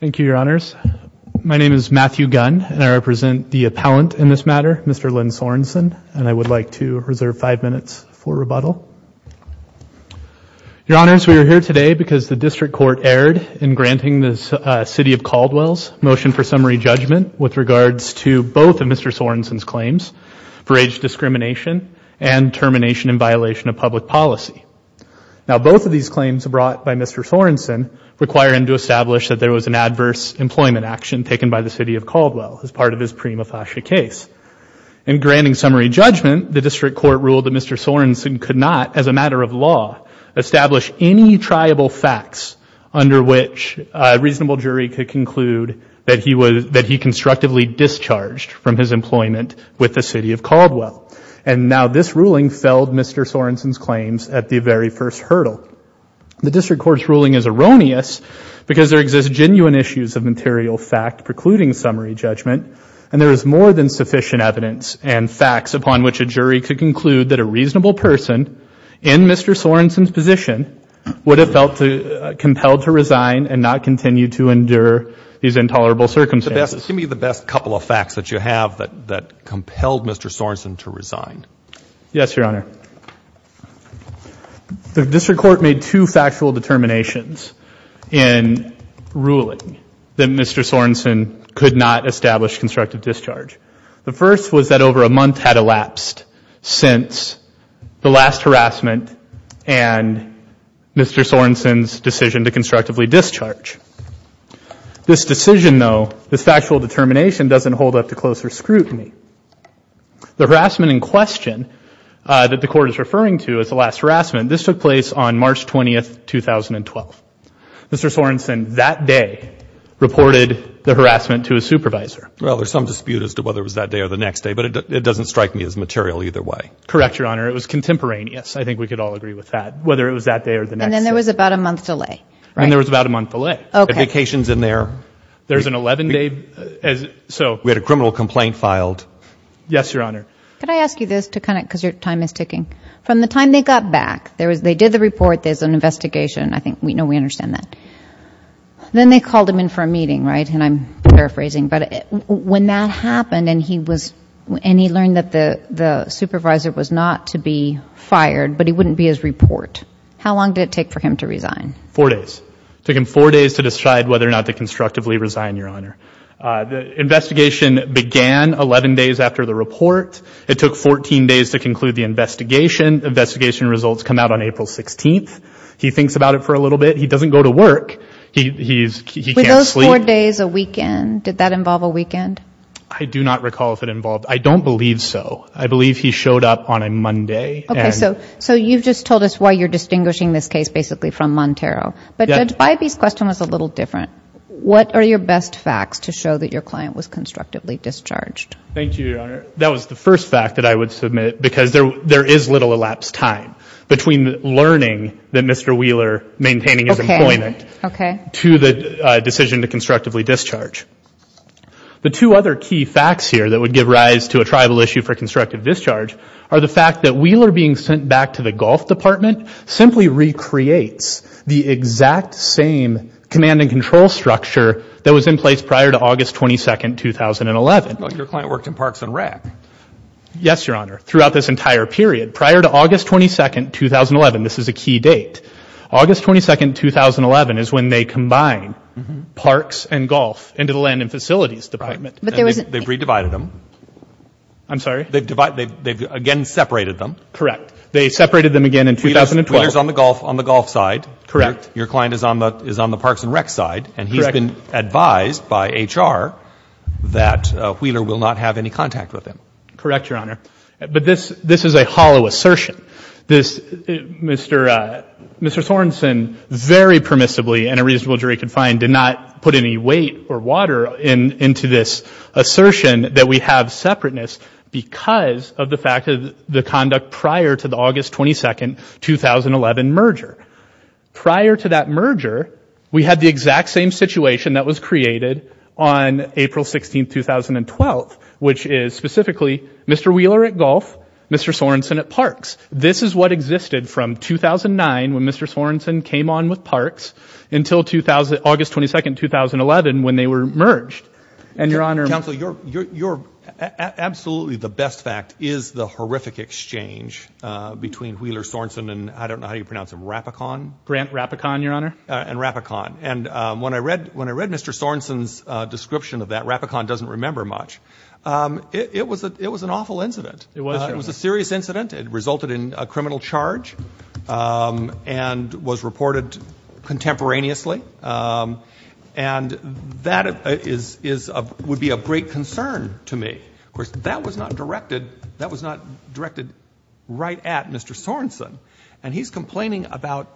Thank you, Your Honors. My name is Matthew Gunn, and I represent the appellant in this matter, Mr. Lynn Sorenson, and I would like to reserve five minutes for rebuttal. Your Honors, we are here today because the District Court erred in granting the City of Caldwell's motion for summary judgment with regards to both of Mr. Sorenson's claims for age discrimination and termination in violation of public policy. Now both of these claims brought by Mr. Sorenson require him to establish that there was an adverse employment action taken by the City of Caldwell as part of his prima facie case. In granting summary judgment, the District Court ruled that Mr. Sorenson could not, as a matter of law, establish any triable facts under which a reasonable jury could conclude that he constructively discharged from his employment with the City of Caldwell. And now this ruling felled Mr. Sorenson's claims at the very first hurdle. The District Court's ruling is erroneous because there exist genuine issues of material fact precluding summary judgment, and there is more than sufficient evidence and facts upon which a jury could conclude that a reasonable person in Mr. Sorenson's position would have felt compelled to resign and not continue to endure these intolerable circumstances. Give me the best couple of facts that you have that compelled Mr. Sorenson to resign. Yes, Your Honor. The District Court made two factual determinations in ruling that Mr. Sorenson could not establish constructive discharge. The first was that over a month had elapsed since the last harassment and Mr. Sorenson's decision to constructively discharge. This decision, though, this factual determination doesn't hold up to closer scrutiny. The harassment in question that the Court is referring to as the last harassment, this took place on March 20, 2012. Mr. Sorenson that day reported the harassment to his supervisor. Well, there's some dispute as to whether it was that day or the next day, but it doesn't strike me as material either way. Correct, Your Honor. It was contemporaneous. I think we could all agree with that, whether it was that day or the next day. And then there was about a month delay. Right. And there was about a month delay. Right. Okay. Vacations in there. There's an 11-day. We had a criminal complaint filed. Yes, Your Honor. Could I ask you this to kind of, because your time is ticking. From the time they got back, they did the report, there's an investigation. I think we know we understand that. Then they called him in for a meeting, right, and I'm paraphrasing, but when that happened and he learned that the supervisor was not to be fired, but he wouldn't be his report, how long did it take for him to resign? Four days. It took him four days to decide whether or not to constructively resign, Your Honor. The investigation began 11 days after the report. It took 14 days to conclude the investigation. Investigation results come out on April 16th. He thinks about it for a little bit. He doesn't go to work. He can't sleep. Were those four days a weekend? Did that involve a weekend? I do not recall if it involved. I don't believe so. I believe he showed up on a Monday. Okay. So you've just told us why you're distinguishing this case basically from Montero. But Judge Bybee's question was a little different. What are your best facts to show that your client was constructively discharged? Thank you, Your Honor. That was the first fact that I would submit because there is little elapsed time between learning that Mr. Wheeler maintaining his employment to the decision to constructively discharge. The two other key facts here that would give rise to a tribal issue for constructive discharge are the fact that Wheeler being sent back to the Gulf Department simply recreates the exact same command and control structure that was in place prior to August 22nd, 2011. But your client worked in parks and rec. Yes, Your Honor. Throughout this entire period, prior to August 22nd, 2011, this is a key date. August 22nd, 2011 is when they combine parks and golf into the land and facilities department. They've re-divided them. I'm sorry? They've again separated them. Correct. They separated them again in 2012. Wheeler is on the golf side. Correct. Your client is on the parks and rec. side, and he's been advised by HR that Wheeler will not have any contact with him. Correct, Your Honor. But this is a hollow assertion. Mr. Sorensen very permissibly, and a reasonable jury can find, did not put any weight or water into this assertion that we have separateness because of the fact of the conduct prior to the August 22nd, 2011 merger. Prior to that merger, we had the exact same situation that was created on April 16th, 2012, which is specifically Mr. Wheeler at golf, Mr. Sorensen at parks. This is what existed from 2009 when Mr. Sorensen came on with parks until August 22nd, 2011 when they were merged. And Your Honor- Counsel, you're, absolutely the best fact is the horrific exchange between Wheeler Sorensen and, I don't know how you pronounce him, Rapikon? Grant Rapikon, Your Honor. And Rapikon. And when I read Mr. Sorensen's description of that, Rapikon doesn't remember much, it was an awful incident. It was. It was a serious incident. It resulted in a criminal charge and was reported contemporaneously. And that is, would be a great concern to me. Of course, that was not directed, that was not directed right at Mr. Sorensen. And he's complaining about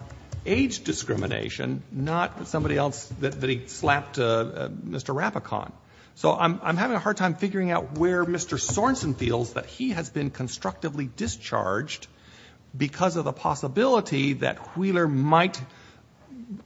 age discrimination, not somebody else that he slapped Mr. Rapikon. So I'm having a hard time figuring out where Mr. Sorensen feels that he has been constructively discharged because of the possibility that Wheeler might,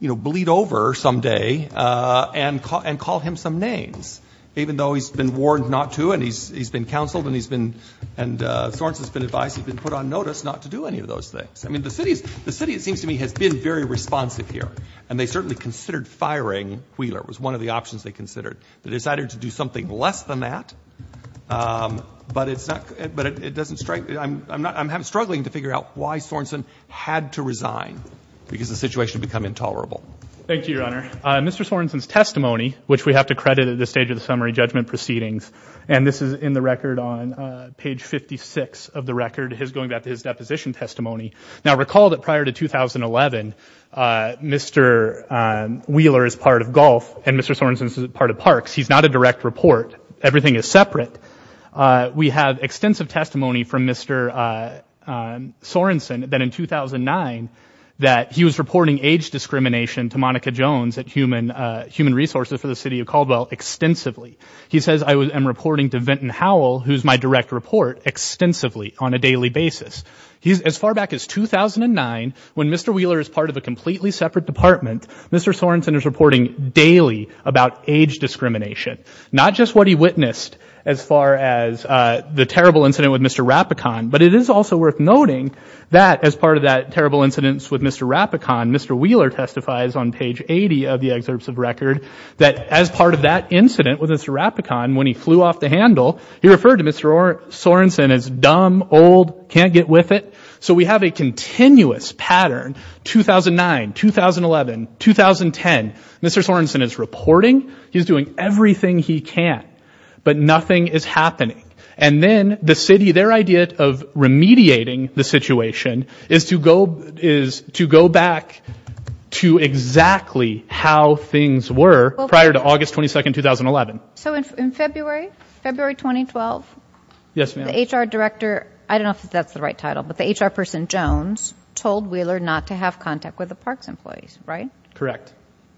you know, bleed over someday and call him some names, even though he's been warned not to and he's been counseled and he's been, and Sorensen's been advised, he's been put on notice not to do any of those things. I mean, the city is, the city, it seems to me, has been very responsive here. And they certainly considered firing Wheeler, was one of the options they considered. They decided to do something less than that. But it's not, but it doesn't strike, I'm not, I'm struggling to figure out why Sorensen had to resign because the situation had become intolerable. Thank you, Your Honor. Mr. Sorensen's testimony, which we have to credit at this stage of the summary judgment proceedings, and this is in the record on page 56 of the record, his going back to his deposition testimony. Now recall that prior to 2011, Mr. Wheeler is part of Gulf and Mr. Sorensen is part of Parks. He's not a direct report. Everything is separate. We have extensive testimony from Mr. Sorensen that in 2009 that he was reporting age discrimination to Monica Jones at Human Resources for the City of Caldwell extensively. He says, I am reporting to Vinton Howell, who's my direct report, extensively on a daily basis. He's, as far back as 2009, when Mr. Wheeler is part of a completely separate department, Mr. Sorensen is reporting daily about age discrimination. Not just what he witnessed as far as the terrible incident with Mr. Rapikon, but it is also worth noting that as part of that terrible incident with Mr. Rapikon, Mr. Wheeler testifies on page 80 of the excerpts of record, that as part of that incident with Mr. Rapikon, when he flew off the handle, he referred to Mr. Sorensen as dumb, old, can't get with it. So we have a continuous pattern, 2009, 2011, 2010, Mr. Sorensen is reporting, he's doing everything he can, but nothing is happening. And then the city, their idea of remediating the situation is to go back to exactly how things were prior to August 22, 2011. So in February, February 2012, the HR director, I don't know if that's the right title, but the HR person, Jones, told Wheeler not to have contact with the parks employees, right? Correct.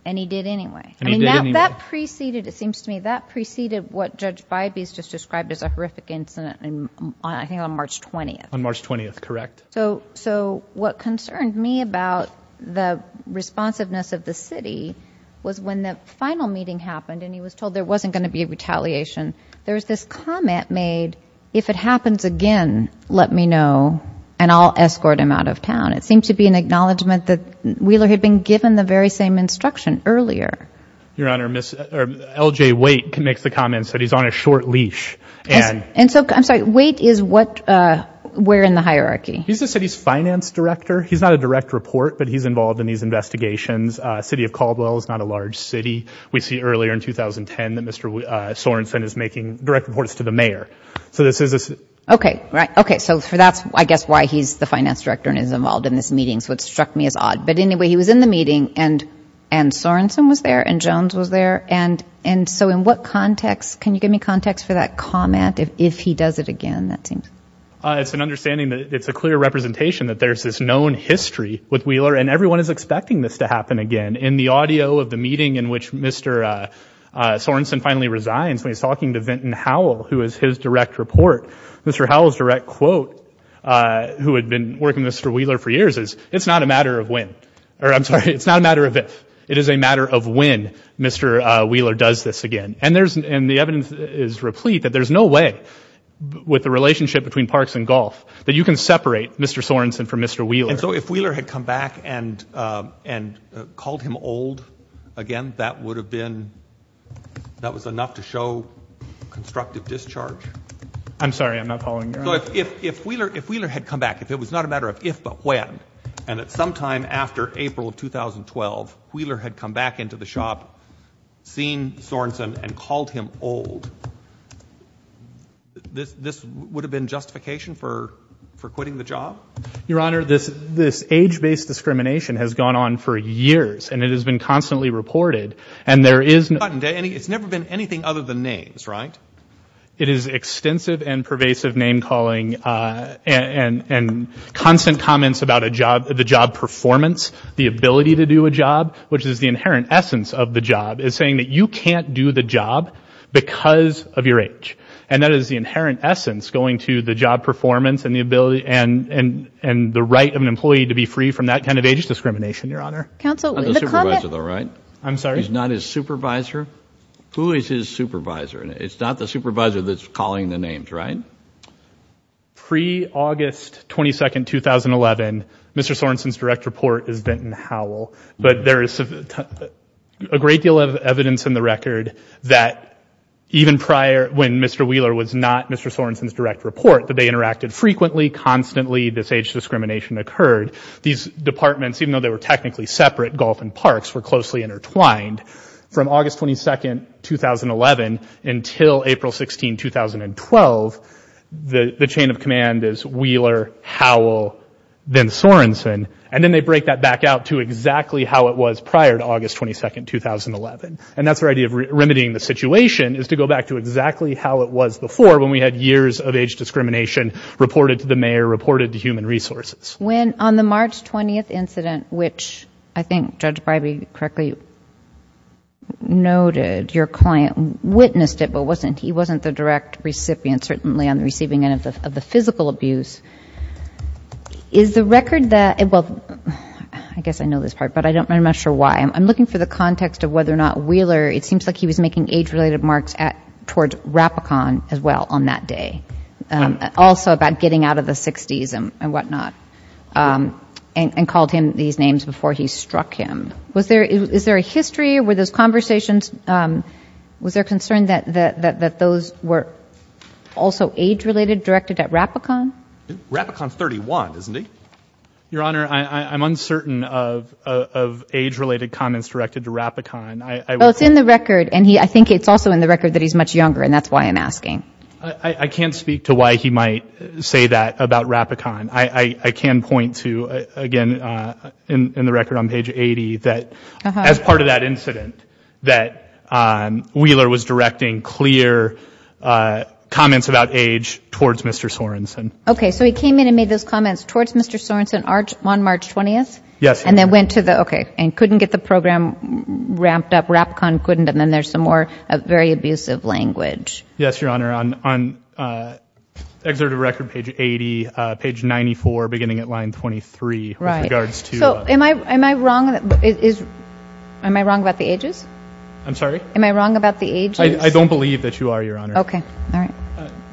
And he did anyway. And that preceded, it seems to me, that preceded what Judge Bybee's just described as a horrific incident I think on March 20th. On March 20th, correct. So what concerned me about the responsiveness of the city was when the final meeting happened and he was told there wasn't going to be a retaliation, there was this comment made, if it happens again, let me know and I'll escort him out of town. It seemed to be an acknowledgement that Wheeler had been given the very same instruction earlier Your Honor, L.J. Waite makes the comment that he's on a short leash. And so, I'm sorry, Waite is what, where in the hierarchy? He's the city's finance director. He's not a direct report, but he's involved in these investigations. City of Caldwell is not a large city. We see earlier in 2010 that Mr. Sorensen is making direct reports to the mayor. So this is a Okay. Right. Okay. So that's, I guess, why he's the finance director and is involved in this meeting, so it struck me as odd. But anyway, he was in the meeting and Sorensen was there and Jones was there. And so, in what context, can you give me context for that comment, if he does it again, that seems? It's an understanding that it's a clear representation that there's this known history with Wheeler and everyone is expecting this to happen again. In the audio of the meeting in which Mr. Sorensen finally resigns, he's talking to Vinton Howell, who is his direct report. Mr. Howell's direct quote, who had been working with Mr. Wheeler for years is, it's not a matter of if, or I'm sorry, it's not a matter of if, it is a matter of when Mr. Wheeler does this again. And there's, and the evidence is replete that there's no way with the relationship between Parks and Golf that you can separate Mr. Sorensen from Mr. Wheeler. And so if Wheeler had come back and called him old again, that would have been, that was enough to show constructive discharge? I'm sorry, I'm not following you. So if Wheeler had come back, if it was not a matter of if, but when, and at some time after April of 2012, Wheeler had come back into the shop, seen Sorensen and called him old, this, this would have been justification for, for quitting the job? Your Honor, this, this age-based discrimination has gone on for years and it has been constantly reported. And there is no, it's never been anything other than names, right? It is extensive and pervasive name-calling and, and, and constant comments about a job, the job performance, the ability to do a job, which is the inherent essence of the job, is saying that you can't do the job because of your age. And that is the inherent essence going to the job performance and the ability and, and, and the right of an employee to be free from that kind of age discrimination, Your Honor. Counsel, the comment... He's not a supervisor though, right? I'm sorry? He's not his supervisor? Who is his supervisor? It's not the supervisor that's calling the names, right? Pre-August 22, 2011, Mr. Sorensen's direct report is Benton Howell, but there is a great deal of evidence in the record that even prior, when Mr. Wheeler was not Mr. Sorensen's direct report, that they interacted frequently, constantly, this age discrimination occurred. These departments, even though they were technically separate, golf and parks, were closely intertwined. From August 22, 2011 until April 16, 2012, the, the chain of command is Wheeler, Howell, then Sorensen. And then they break that back out to exactly how it was prior to August 22, 2011. And that's their idea of remedying the situation, is to go back to exactly how it was before when we had years of age discrimination reported to the mayor, reported to Human Resources. When, on the March 20th incident, which I think Judge Bribie correctly noted, your client witnessed it, but wasn't, he wasn't the direct recipient, certainly on the receiving end of the physical abuse. Is the record that, well, I guess I know this part, but I don't, I'm not sure why. I'm looking for the context of whether or not Wheeler, it seems like he was making age-related marks at, towards Rapicon as well on that day. Also about getting out of the 60s and whatnot, and called him these names before he struck him. Was there, is there a history? Were those conversations, was there concern that those were also age-related, directed at Rapicon? Rapicon's 31, isn't he? Your Honor, I'm uncertain of age-related comments directed to Rapicon. Well, it's in the record, and I think it's also in the record that he's much younger, and that's why I'm asking. I can't speak to why he might say that about Rapicon. I can point to, again, in the record on page 80, that as part of that incident, that Wheeler was directing clear comments about age towards Mr. Sorenson. Okay, so he came in and made those comments towards Mr. Sorenson on March 20th? Yes, Your Honor. And then went to the, okay, and couldn't get the program ramped up, Rapicon couldn't, and then there's some more very abusive language. Yes, Your Honor. On excerpt of record, page 80, page 94, beginning at line 23, with regards to... Right. So, am I wrong? Is, am I wrong about the ages? I'm sorry? Am I wrong about the ages? I don't believe that you are, Your Honor. Okay, all right.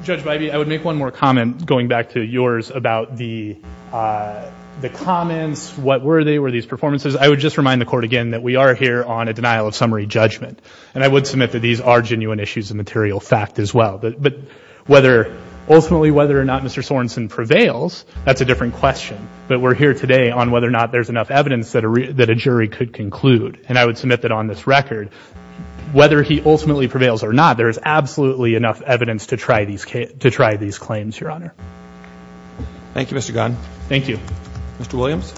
Judge Bybee, I would make one more comment going back to yours about the comments. What were they? Were these performances? I would just remind the court again that we are here on a denial of summary judgment. And I would submit that these are genuine issues of material fact as well. But whether, ultimately, whether or not Mr. Sorenson prevails, that's a different question. But we're here today on whether or not there's enough evidence that a jury could conclude. And I would submit that on this record, whether he ultimately prevails or not, there is absolutely enough evidence to try these claims, Your Honor. Thank you, Mr. Gunn. Thank you. Mr. Williams?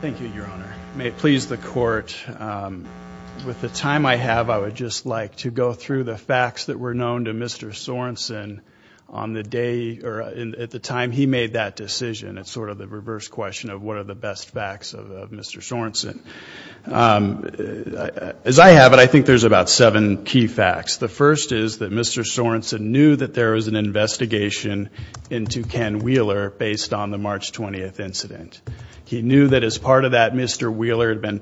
Thank you, Your Honor. May it please the court, with the time I have, I would just like to go through the facts that were known to Mr. Sorenson on the day, or at the time he made that decision. It's sort of the reverse question of what are the best facts of Mr. Sorenson. As I have it, I think there's about seven key facts. The first is that Mr. Sorenson knew that there was an investigation into Ken Wheeler based on the March 20th incident. He knew that as part of that, Mr. Wheeler had been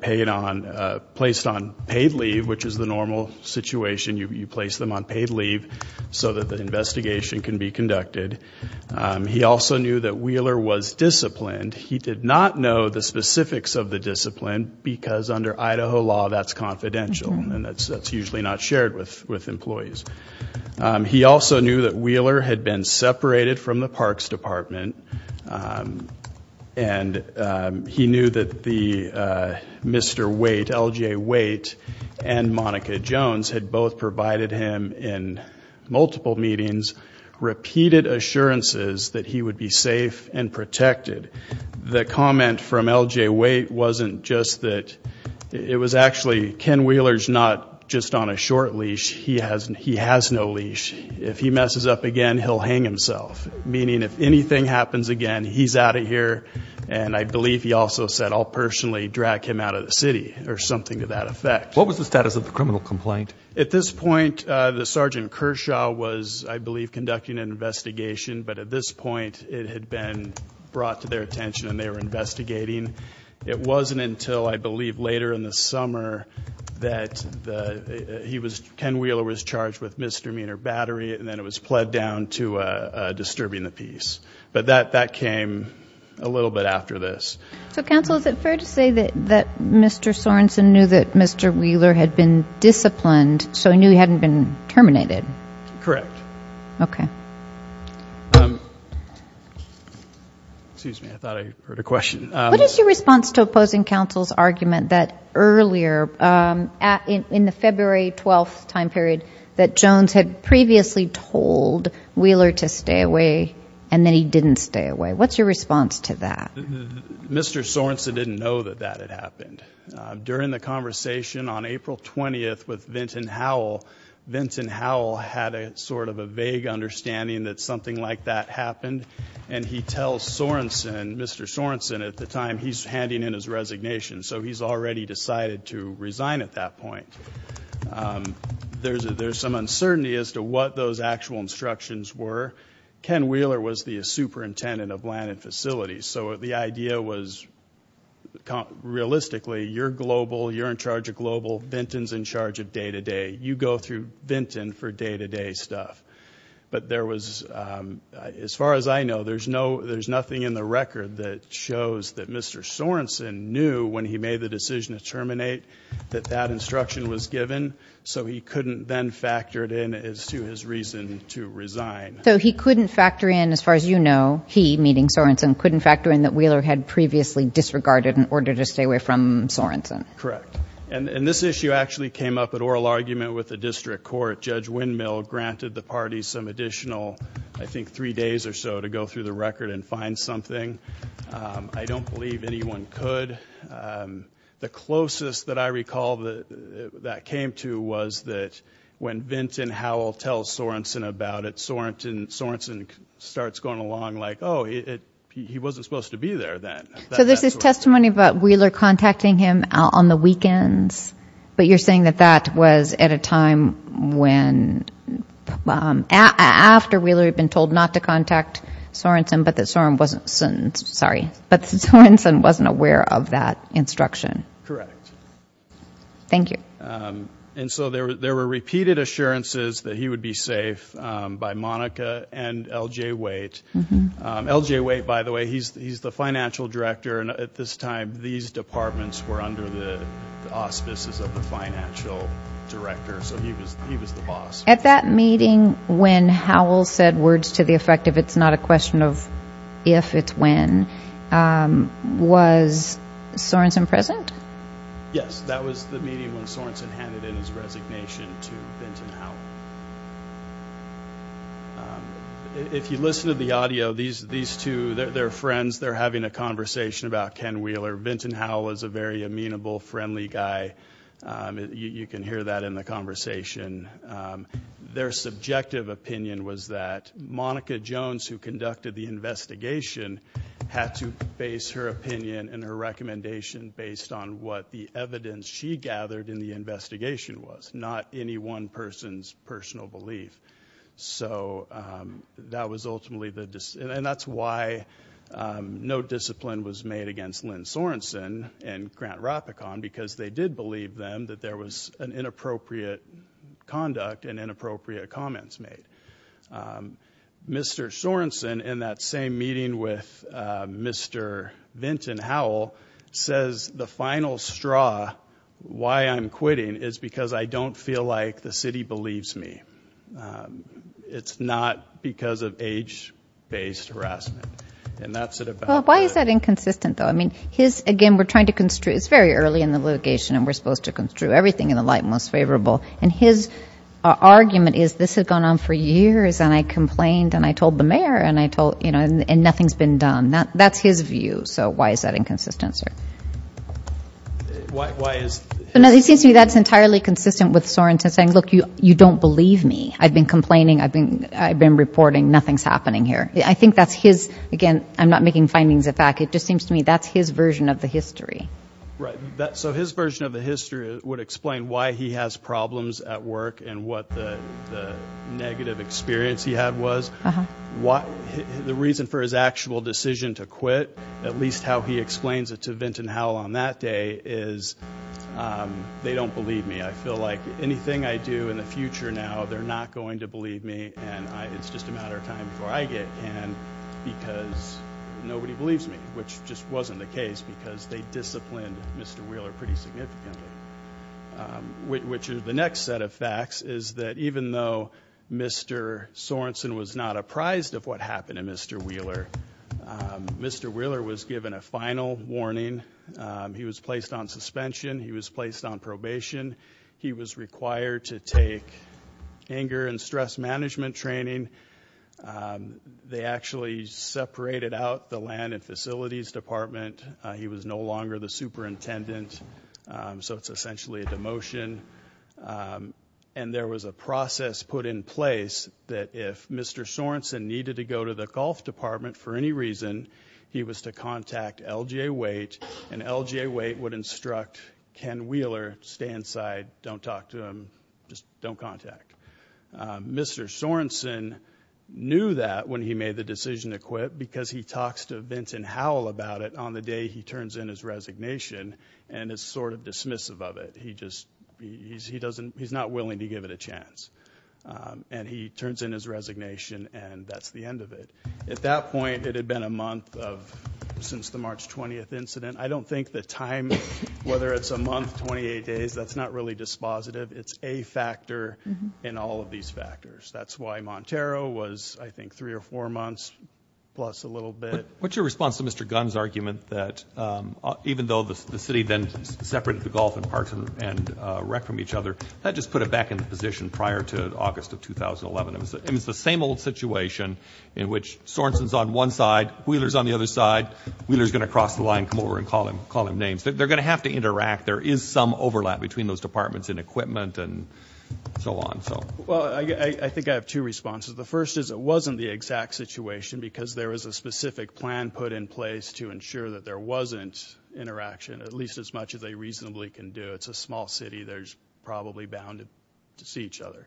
placed on paid leave, which is the normal situation. You place them on paid leave so that the investigation can be conducted. He also knew that Wheeler was disciplined. He did not know the specifics of the discipline, because under Idaho law, that's confidential. That's usually not shared with employees. He also knew that Wheeler had been separated from the Parks Department. He knew that Mr. Waite, L.J. Waite, and Monica Jones had both provided him in multiple meetings repeated assurances that he would be safe and protected. The comment from L.J. Waite wasn't just that. It was actually, Ken Wheeler's not just on a short leash, he has no leash. If he messes up again, he'll hang himself, meaning if anything happens again, he's out of here. And I believe he also said, I'll personally drag him out of the city, or something to that effect. What was the status of the criminal complaint? At this point, the Sergeant Kershaw was, I believe, conducting an investigation. But at this point, it had been brought to their attention, and they were investigating. It wasn't until, I believe, later in the summer that Ken Wheeler was charged with misdemeanor battery, and then it was pled down to disturbing the peace. But that came a little bit after this. So, Counsel, is it fair to say that Mr. Sorensen knew that Mr. Wheeler had been disciplined, so he knew he hadn't been terminated? Correct. Okay. Excuse me, I thought I heard a question. What is your response to opposing counsel's argument that earlier, in the February 12th time period, that Jones had previously told Wheeler to stay away, and then he didn't stay away? What's your response to that? Mr. Sorensen didn't know that that had happened. During the conversation on April 20th with Vinton Howell, Vinton Howell had a sort of vague understanding that something like that happened, and he tells Sorensen, Mr. Sorensen at the time, he's handing in his resignation, so he's already decided to resign at that point. There's some uncertainty as to what those actual instructions were. Ken Wheeler was the superintendent of land and facilities, so the idea was, realistically, you're global, you're in charge of global, Vinton's in charge of day-to-day. You go through Vinton for day-to-day stuff, but there was, as far as I know, there's nothing in the record that shows that Mr. Sorensen knew, when he made the decision to terminate, that that instruction was given, so he couldn't then factor it in as to his reason to resign. So he couldn't factor in, as far as you know, he, meeting Sorensen, couldn't factor in that Wheeler had previously disregarded in order to stay away from Sorensen. Correct. And this issue actually came up at oral argument with the district court. Judge Windmill granted the party some additional, I think, three days or so to go through the record and find something. I don't believe anyone could. The closest that I recall that that came to was that when Vinton Howell tells Sorensen about it, Sorensen starts going along like, oh, he wasn't supposed to be there then. So there's this testimony about Wheeler contacting him on the weekends, but you're saying that that was at a time when, after Wheeler had been told not to contact Sorensen, but that Sorensen wasn't aware of that instruction. Correct. Thank you. And so there were repeated assurances that he would be safe by Monica and L.J. Waite. L.J. Waite, by the way, he's the financial director, and at this time, these departments were under the auspices of the financial director, so he was the boss. At that meeting when Howell said words to the effect of, it's not a question of if, it's when, was Sorensen present? Yes, that was the meeting when Sorensen handed in his resignation to Vinton Howell. If you listen to the audio, these two, they're friends, they're having a conversation about Ken Wheeler. Vinton Howell is a very amenable, friendly guy. You can hear that in the conversation. Their subjective opinion was that Monica Jones, who conducted the investigation, had to base her opinion and her recommendation based on what the evidence she gathered in the investigation was, not any one person's personal belief. So that was ultimately the, and that's why no discipline was made against Lynn Sorensen and Grant Rapikon, because they did believe them that there was an inappropriate conduct and inappropriate comments made. Mr. Sorensen, in that same meeting with Mr. Vinton Howell, says the final straw, why I'm I don't feel like the city believes me. It's not because of age-based harassment. And that's it about that. Why is that inconsistent, though? I mean, his, again, we're trying to construe, it's very early in the litigation and we're supposed to construe everything in the light and most favorable. And his argument is, this has gone on for years and I complained and I told the mayor and I told, you know, and nothing's been done. That's his view. So why is that inconsistent, sir? Why is... So, no, it seems to me that's entirely consistent with Sorensen saying, look, you don't believe me. I've been complaining. I've been reporting. Nothing's happening here. I think that's his, again, I'm not making findings of fact. It just seems to me that's his version of the history. Right. So his version of the history would explain why he has problems at work and what the negative experience he had was. The reason for his actual decision to quit, at least how he explains it to Vinton Howell on that day, is they don't believe me. I feel like anything I do in the future now, they're not going to believe me and it's just a matter of time before I get canned because nobody believes me, which just wasn't the case because they disciplined Mr. Wheeler pretty significantly. Which is the next set of facts is that even though Mr. Sorensen was not apprised of what He was placed on suspension. He was placed on probation. He was required to take anger and stress management training. They actually separated out the land and facilities department. He was no longer the superintendent. So it's essentially a demotion. And there was a process put in place that if Mr. Sorensen needed to go to the golf department for any reason, he was to contact LGA Waite and LGA Waite would instruct Ken Wheeler, stay inside, don't talk to him, just don't contact. Mr. Sorensen knew that when he made the decision to quit because he talks to Vinton Howell about it on the day he turns in his resignation and is sort of dismissive of it. He just, he doesn't, he's not willing to give it a chance. And he turns in his resignation and that's the end of it. At that point, it had been a month of since the March 20th incident. I don't think the time, whether it's a month, 28 days, that's not really dispositive. It's a factor in all of these factors. That's why Montero was, I think, three or four months plus a little bit. What's your response to Mr. Gunn's argument that even though the city then separated the golf and parks and rec from each other, that just put it back in the position prior to August of 2011. It was the same old situation in which Sorensen's on one side, Wheeler's on the other side. Wheeler's going to cross the line, come over and call him names. They're going to have to interact. There is some overlap between those departments in equipment and so on. Well, I think I have two responses. The first is it wasn't the exact situation because there was a specific plan put in place to ensure that there wasn't interaction. At least as much as they reasonably can do. It's a small city, they're probably bound to see each other.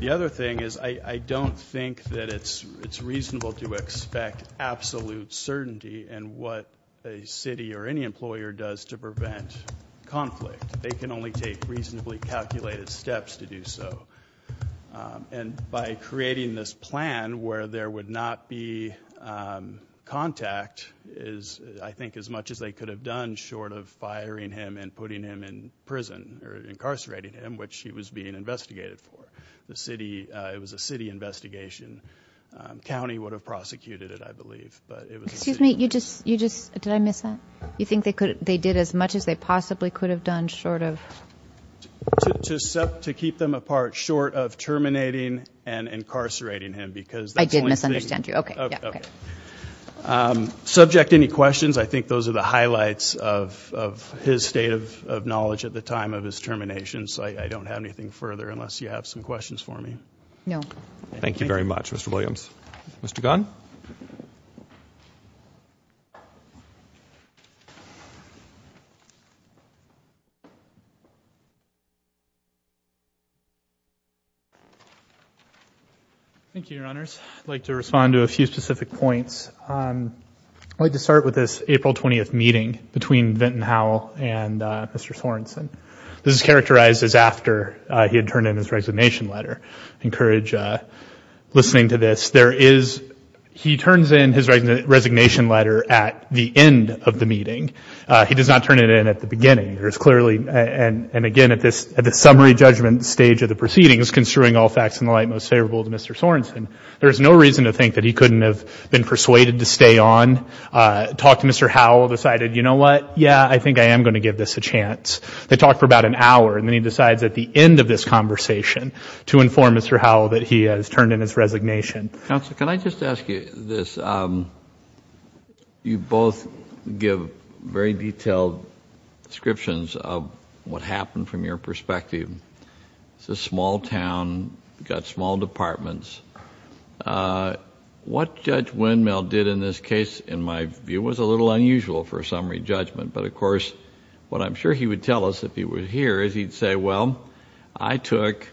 The other thing is I don't think that it's reasonable to expect absolute certainty and what a city or any employer does to prevent conflict. They can only take reasonably calculated steps to do so. And by creating this plan where there would not be contact is, I think, as much as they could have done short of firing him and putting him in prison or incarcerating him, which he was being investigated for. It was a city investigation. County would have prosecuted it, I believe. But it was a city- Excuse me, you just, did I miss that? You think they did as much as they possibly could have done short of- To keep them apart short of terminating and incarcerating him because- I did misunderstand you, okay, yeah, okay. Subject, any questions? I think those are the highlights of his state of knowledge at the time of his termination. Questions, I don't have anything further unless you have some questions for me. No. Thank you very much, Mr. Williams. Mr. Gunn? Thank you, your honors. I'd like to respond to a few specific points. I'd like to start with this April 20th meeting between Vinton Howell and Mr. Sorenson. This is characterized as after he had turned in his resignation letter. I encourage listening to this. There is, he turns in his resignation letter at the end of the meeting. He does not turn it in at the beginning. There's clearly, and again, at this summary judgment stage of the proceedings, construing all facts in the light most favorable to Mr. Sorenson, there's no reason to think that he couldn't have been persuaded to stay on. Talked to Mr. Howell, decided, you know what, yeah, I think I am going to give this a chance. They talked for about an hour, and then he decides at the end of this conversation to inform Mr. Howell that he has turned in his resignation. Counsel, can I just ask you this? You both give very detailed descriptions of what happened from your perspective. It's a small town, got small departments. What Judge Windmill did in this case, in my view, was a little unusual for a summary judgment. But of course, what I'm sure he would tell us if he were here is he'd say, well, I took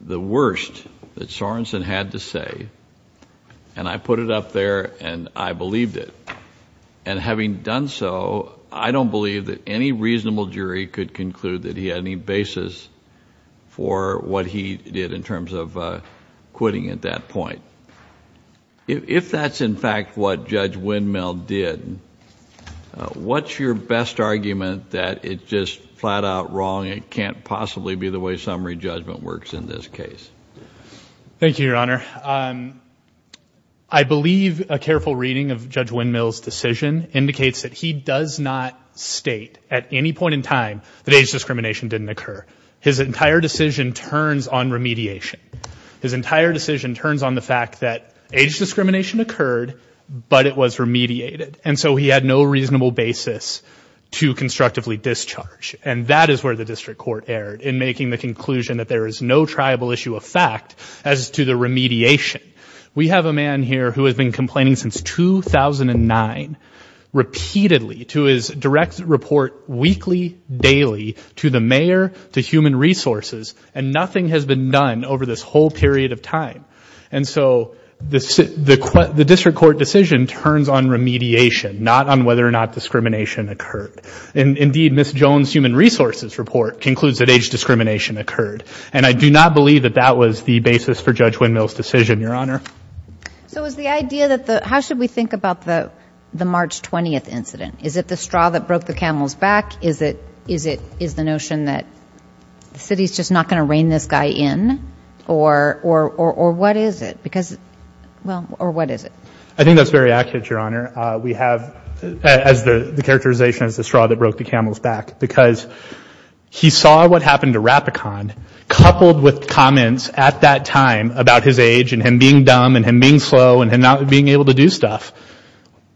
the worst that Sorenson had to say, and I put it up there, and I believed it. And having done so, I don't believe that any reasonable jury could conclude that he had any basis for what he did in terms of quitting at that point. If that's, in fact, what Judge Windmill did, what's your best argument that it's just flat-out wrong, it can't possibly be the way summary judgment works in this case? Thank you, Your Honor. I believe a careful reading of Judge Windmill's decision indicates that he does not state at any point in time that age discrimination didn't occur. His entire decision turns on remediation. His entire decision turns on the fact that age discrimination occurred, but it was remediated. And so he had no reasonable basis to constructively discharge. And that is where the district court erred in making the conclusion that there is no triable issue of fact as to the remediation. We have a man here who has been complaining since 2009 repeatedly to his direct report weekly, daily, to the mayor, to Human Resources, and nothing has been done over this whole period of time. And so the district court decision turns on remediation, not on whether or not discrimination occurred. Indeed, Ms. Jones' Human Resources report concludes that age discrimination occurred. And I do not believe that that was the basis for Judge Windmill's decision, Your Honor. So is the idea that the, how should we think about the March 20th incident? Is it the straw that broke the camel's back? Is it, is it, is the notion that the city's just not going to rein this guy in? Or, or, or, or what is it? Because, well, or what is it? I think that's very accurate, Your Honor. We have, as the, the characterization is the straw that broke the camel's back. Because he saw what happened to Rapicon, coupled with comments at that time about his age, and him being dumb, and him being slow, and him not being able to do stuff.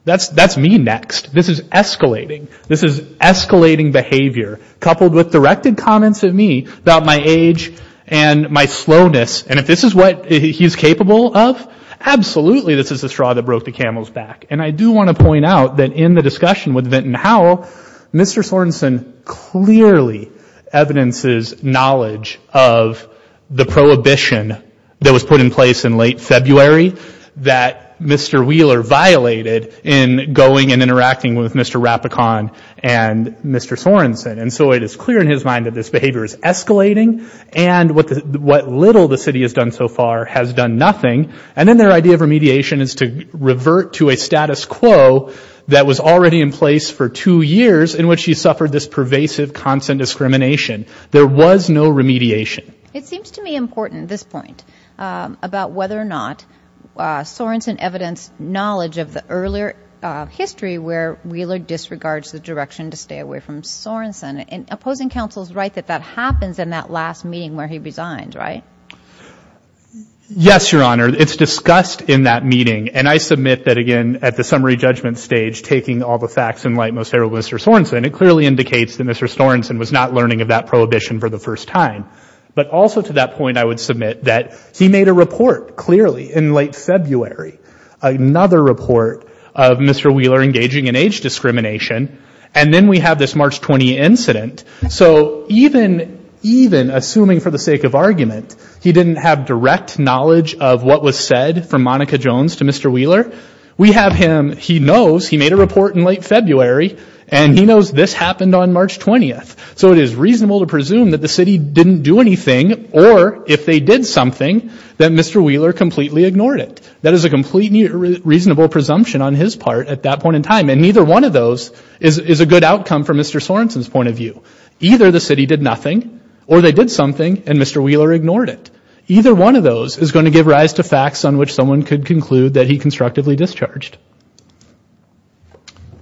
That's, that's me next. This is escalating. This is escalating behavior, coupled with directed comments at me about my age and my slowness. And if this is what he's capable of, absolutely this is the straw that broke the camel's back. And I do want to point out that in the discussion with Vinton Howell, Mr. Sorensen clearly evidences knowledge of the prohibition that was put in place in late February that Mr. Wheeler violated in going and interacting with Mr. Rapicon and Mr. Sorensen. And so it is clear in his mind that this behavior is escalating. And what the, what little the city has done so far has done nothing. And then their idea of remediation is to revert to a status quo that was already in place for two years in which he suffered this pervasive constant discrimination. There was no remediation. It seems to me important at this point, about whether or not Sorensen evidenced knowledge of the earlier history where Wheeler disregards the direction to stay away from Sorensen. And opposing counsel's right that that happens in that last meeting where he resigned, right? Yes, Your Honor. It's discussed in that meeting. And I submit that, again, at the summary judgment stage, taking all the facts in light, Mr. Sorensen, it clearly indicates that Mr. Sorensen was not learning of that prohibition for the first time. But also to that point, I would submit that he made a report clearly in late February, another report of Mr. Wheeler engaging in age discrimination. And then we have this March 20 incident. So even, even assuming for the sake of argument, he didn't have direct knowledge of what was said from Monica Jones to Mr. Wheeler. We have him, he knows he made a report in late February. And he knows this happened on March 20th. So it is reasonable to presume that the city didn't do anything, or if they did something, that Mr. Wheeler completely ignored it. That is a completely reasonable presumption on his part at that point in time. And neither one of those is a good outcome from Mr. Sorensen's point of view. Either the city did nothing, or they did something, and Mr. Wheeler ignored it. Either one of those is going to give rise to facts on which someone could conclude that he constructively discharged.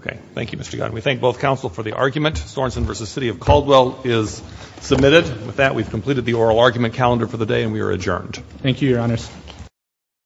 Okay. Thank you, Mr. Gunn. We thank both counsel for the argument. Sorensen versus City of Caldwell is submitted. With that, we've completed the oral argument calendar for the day, and we are adjourned. Thank you, your honors.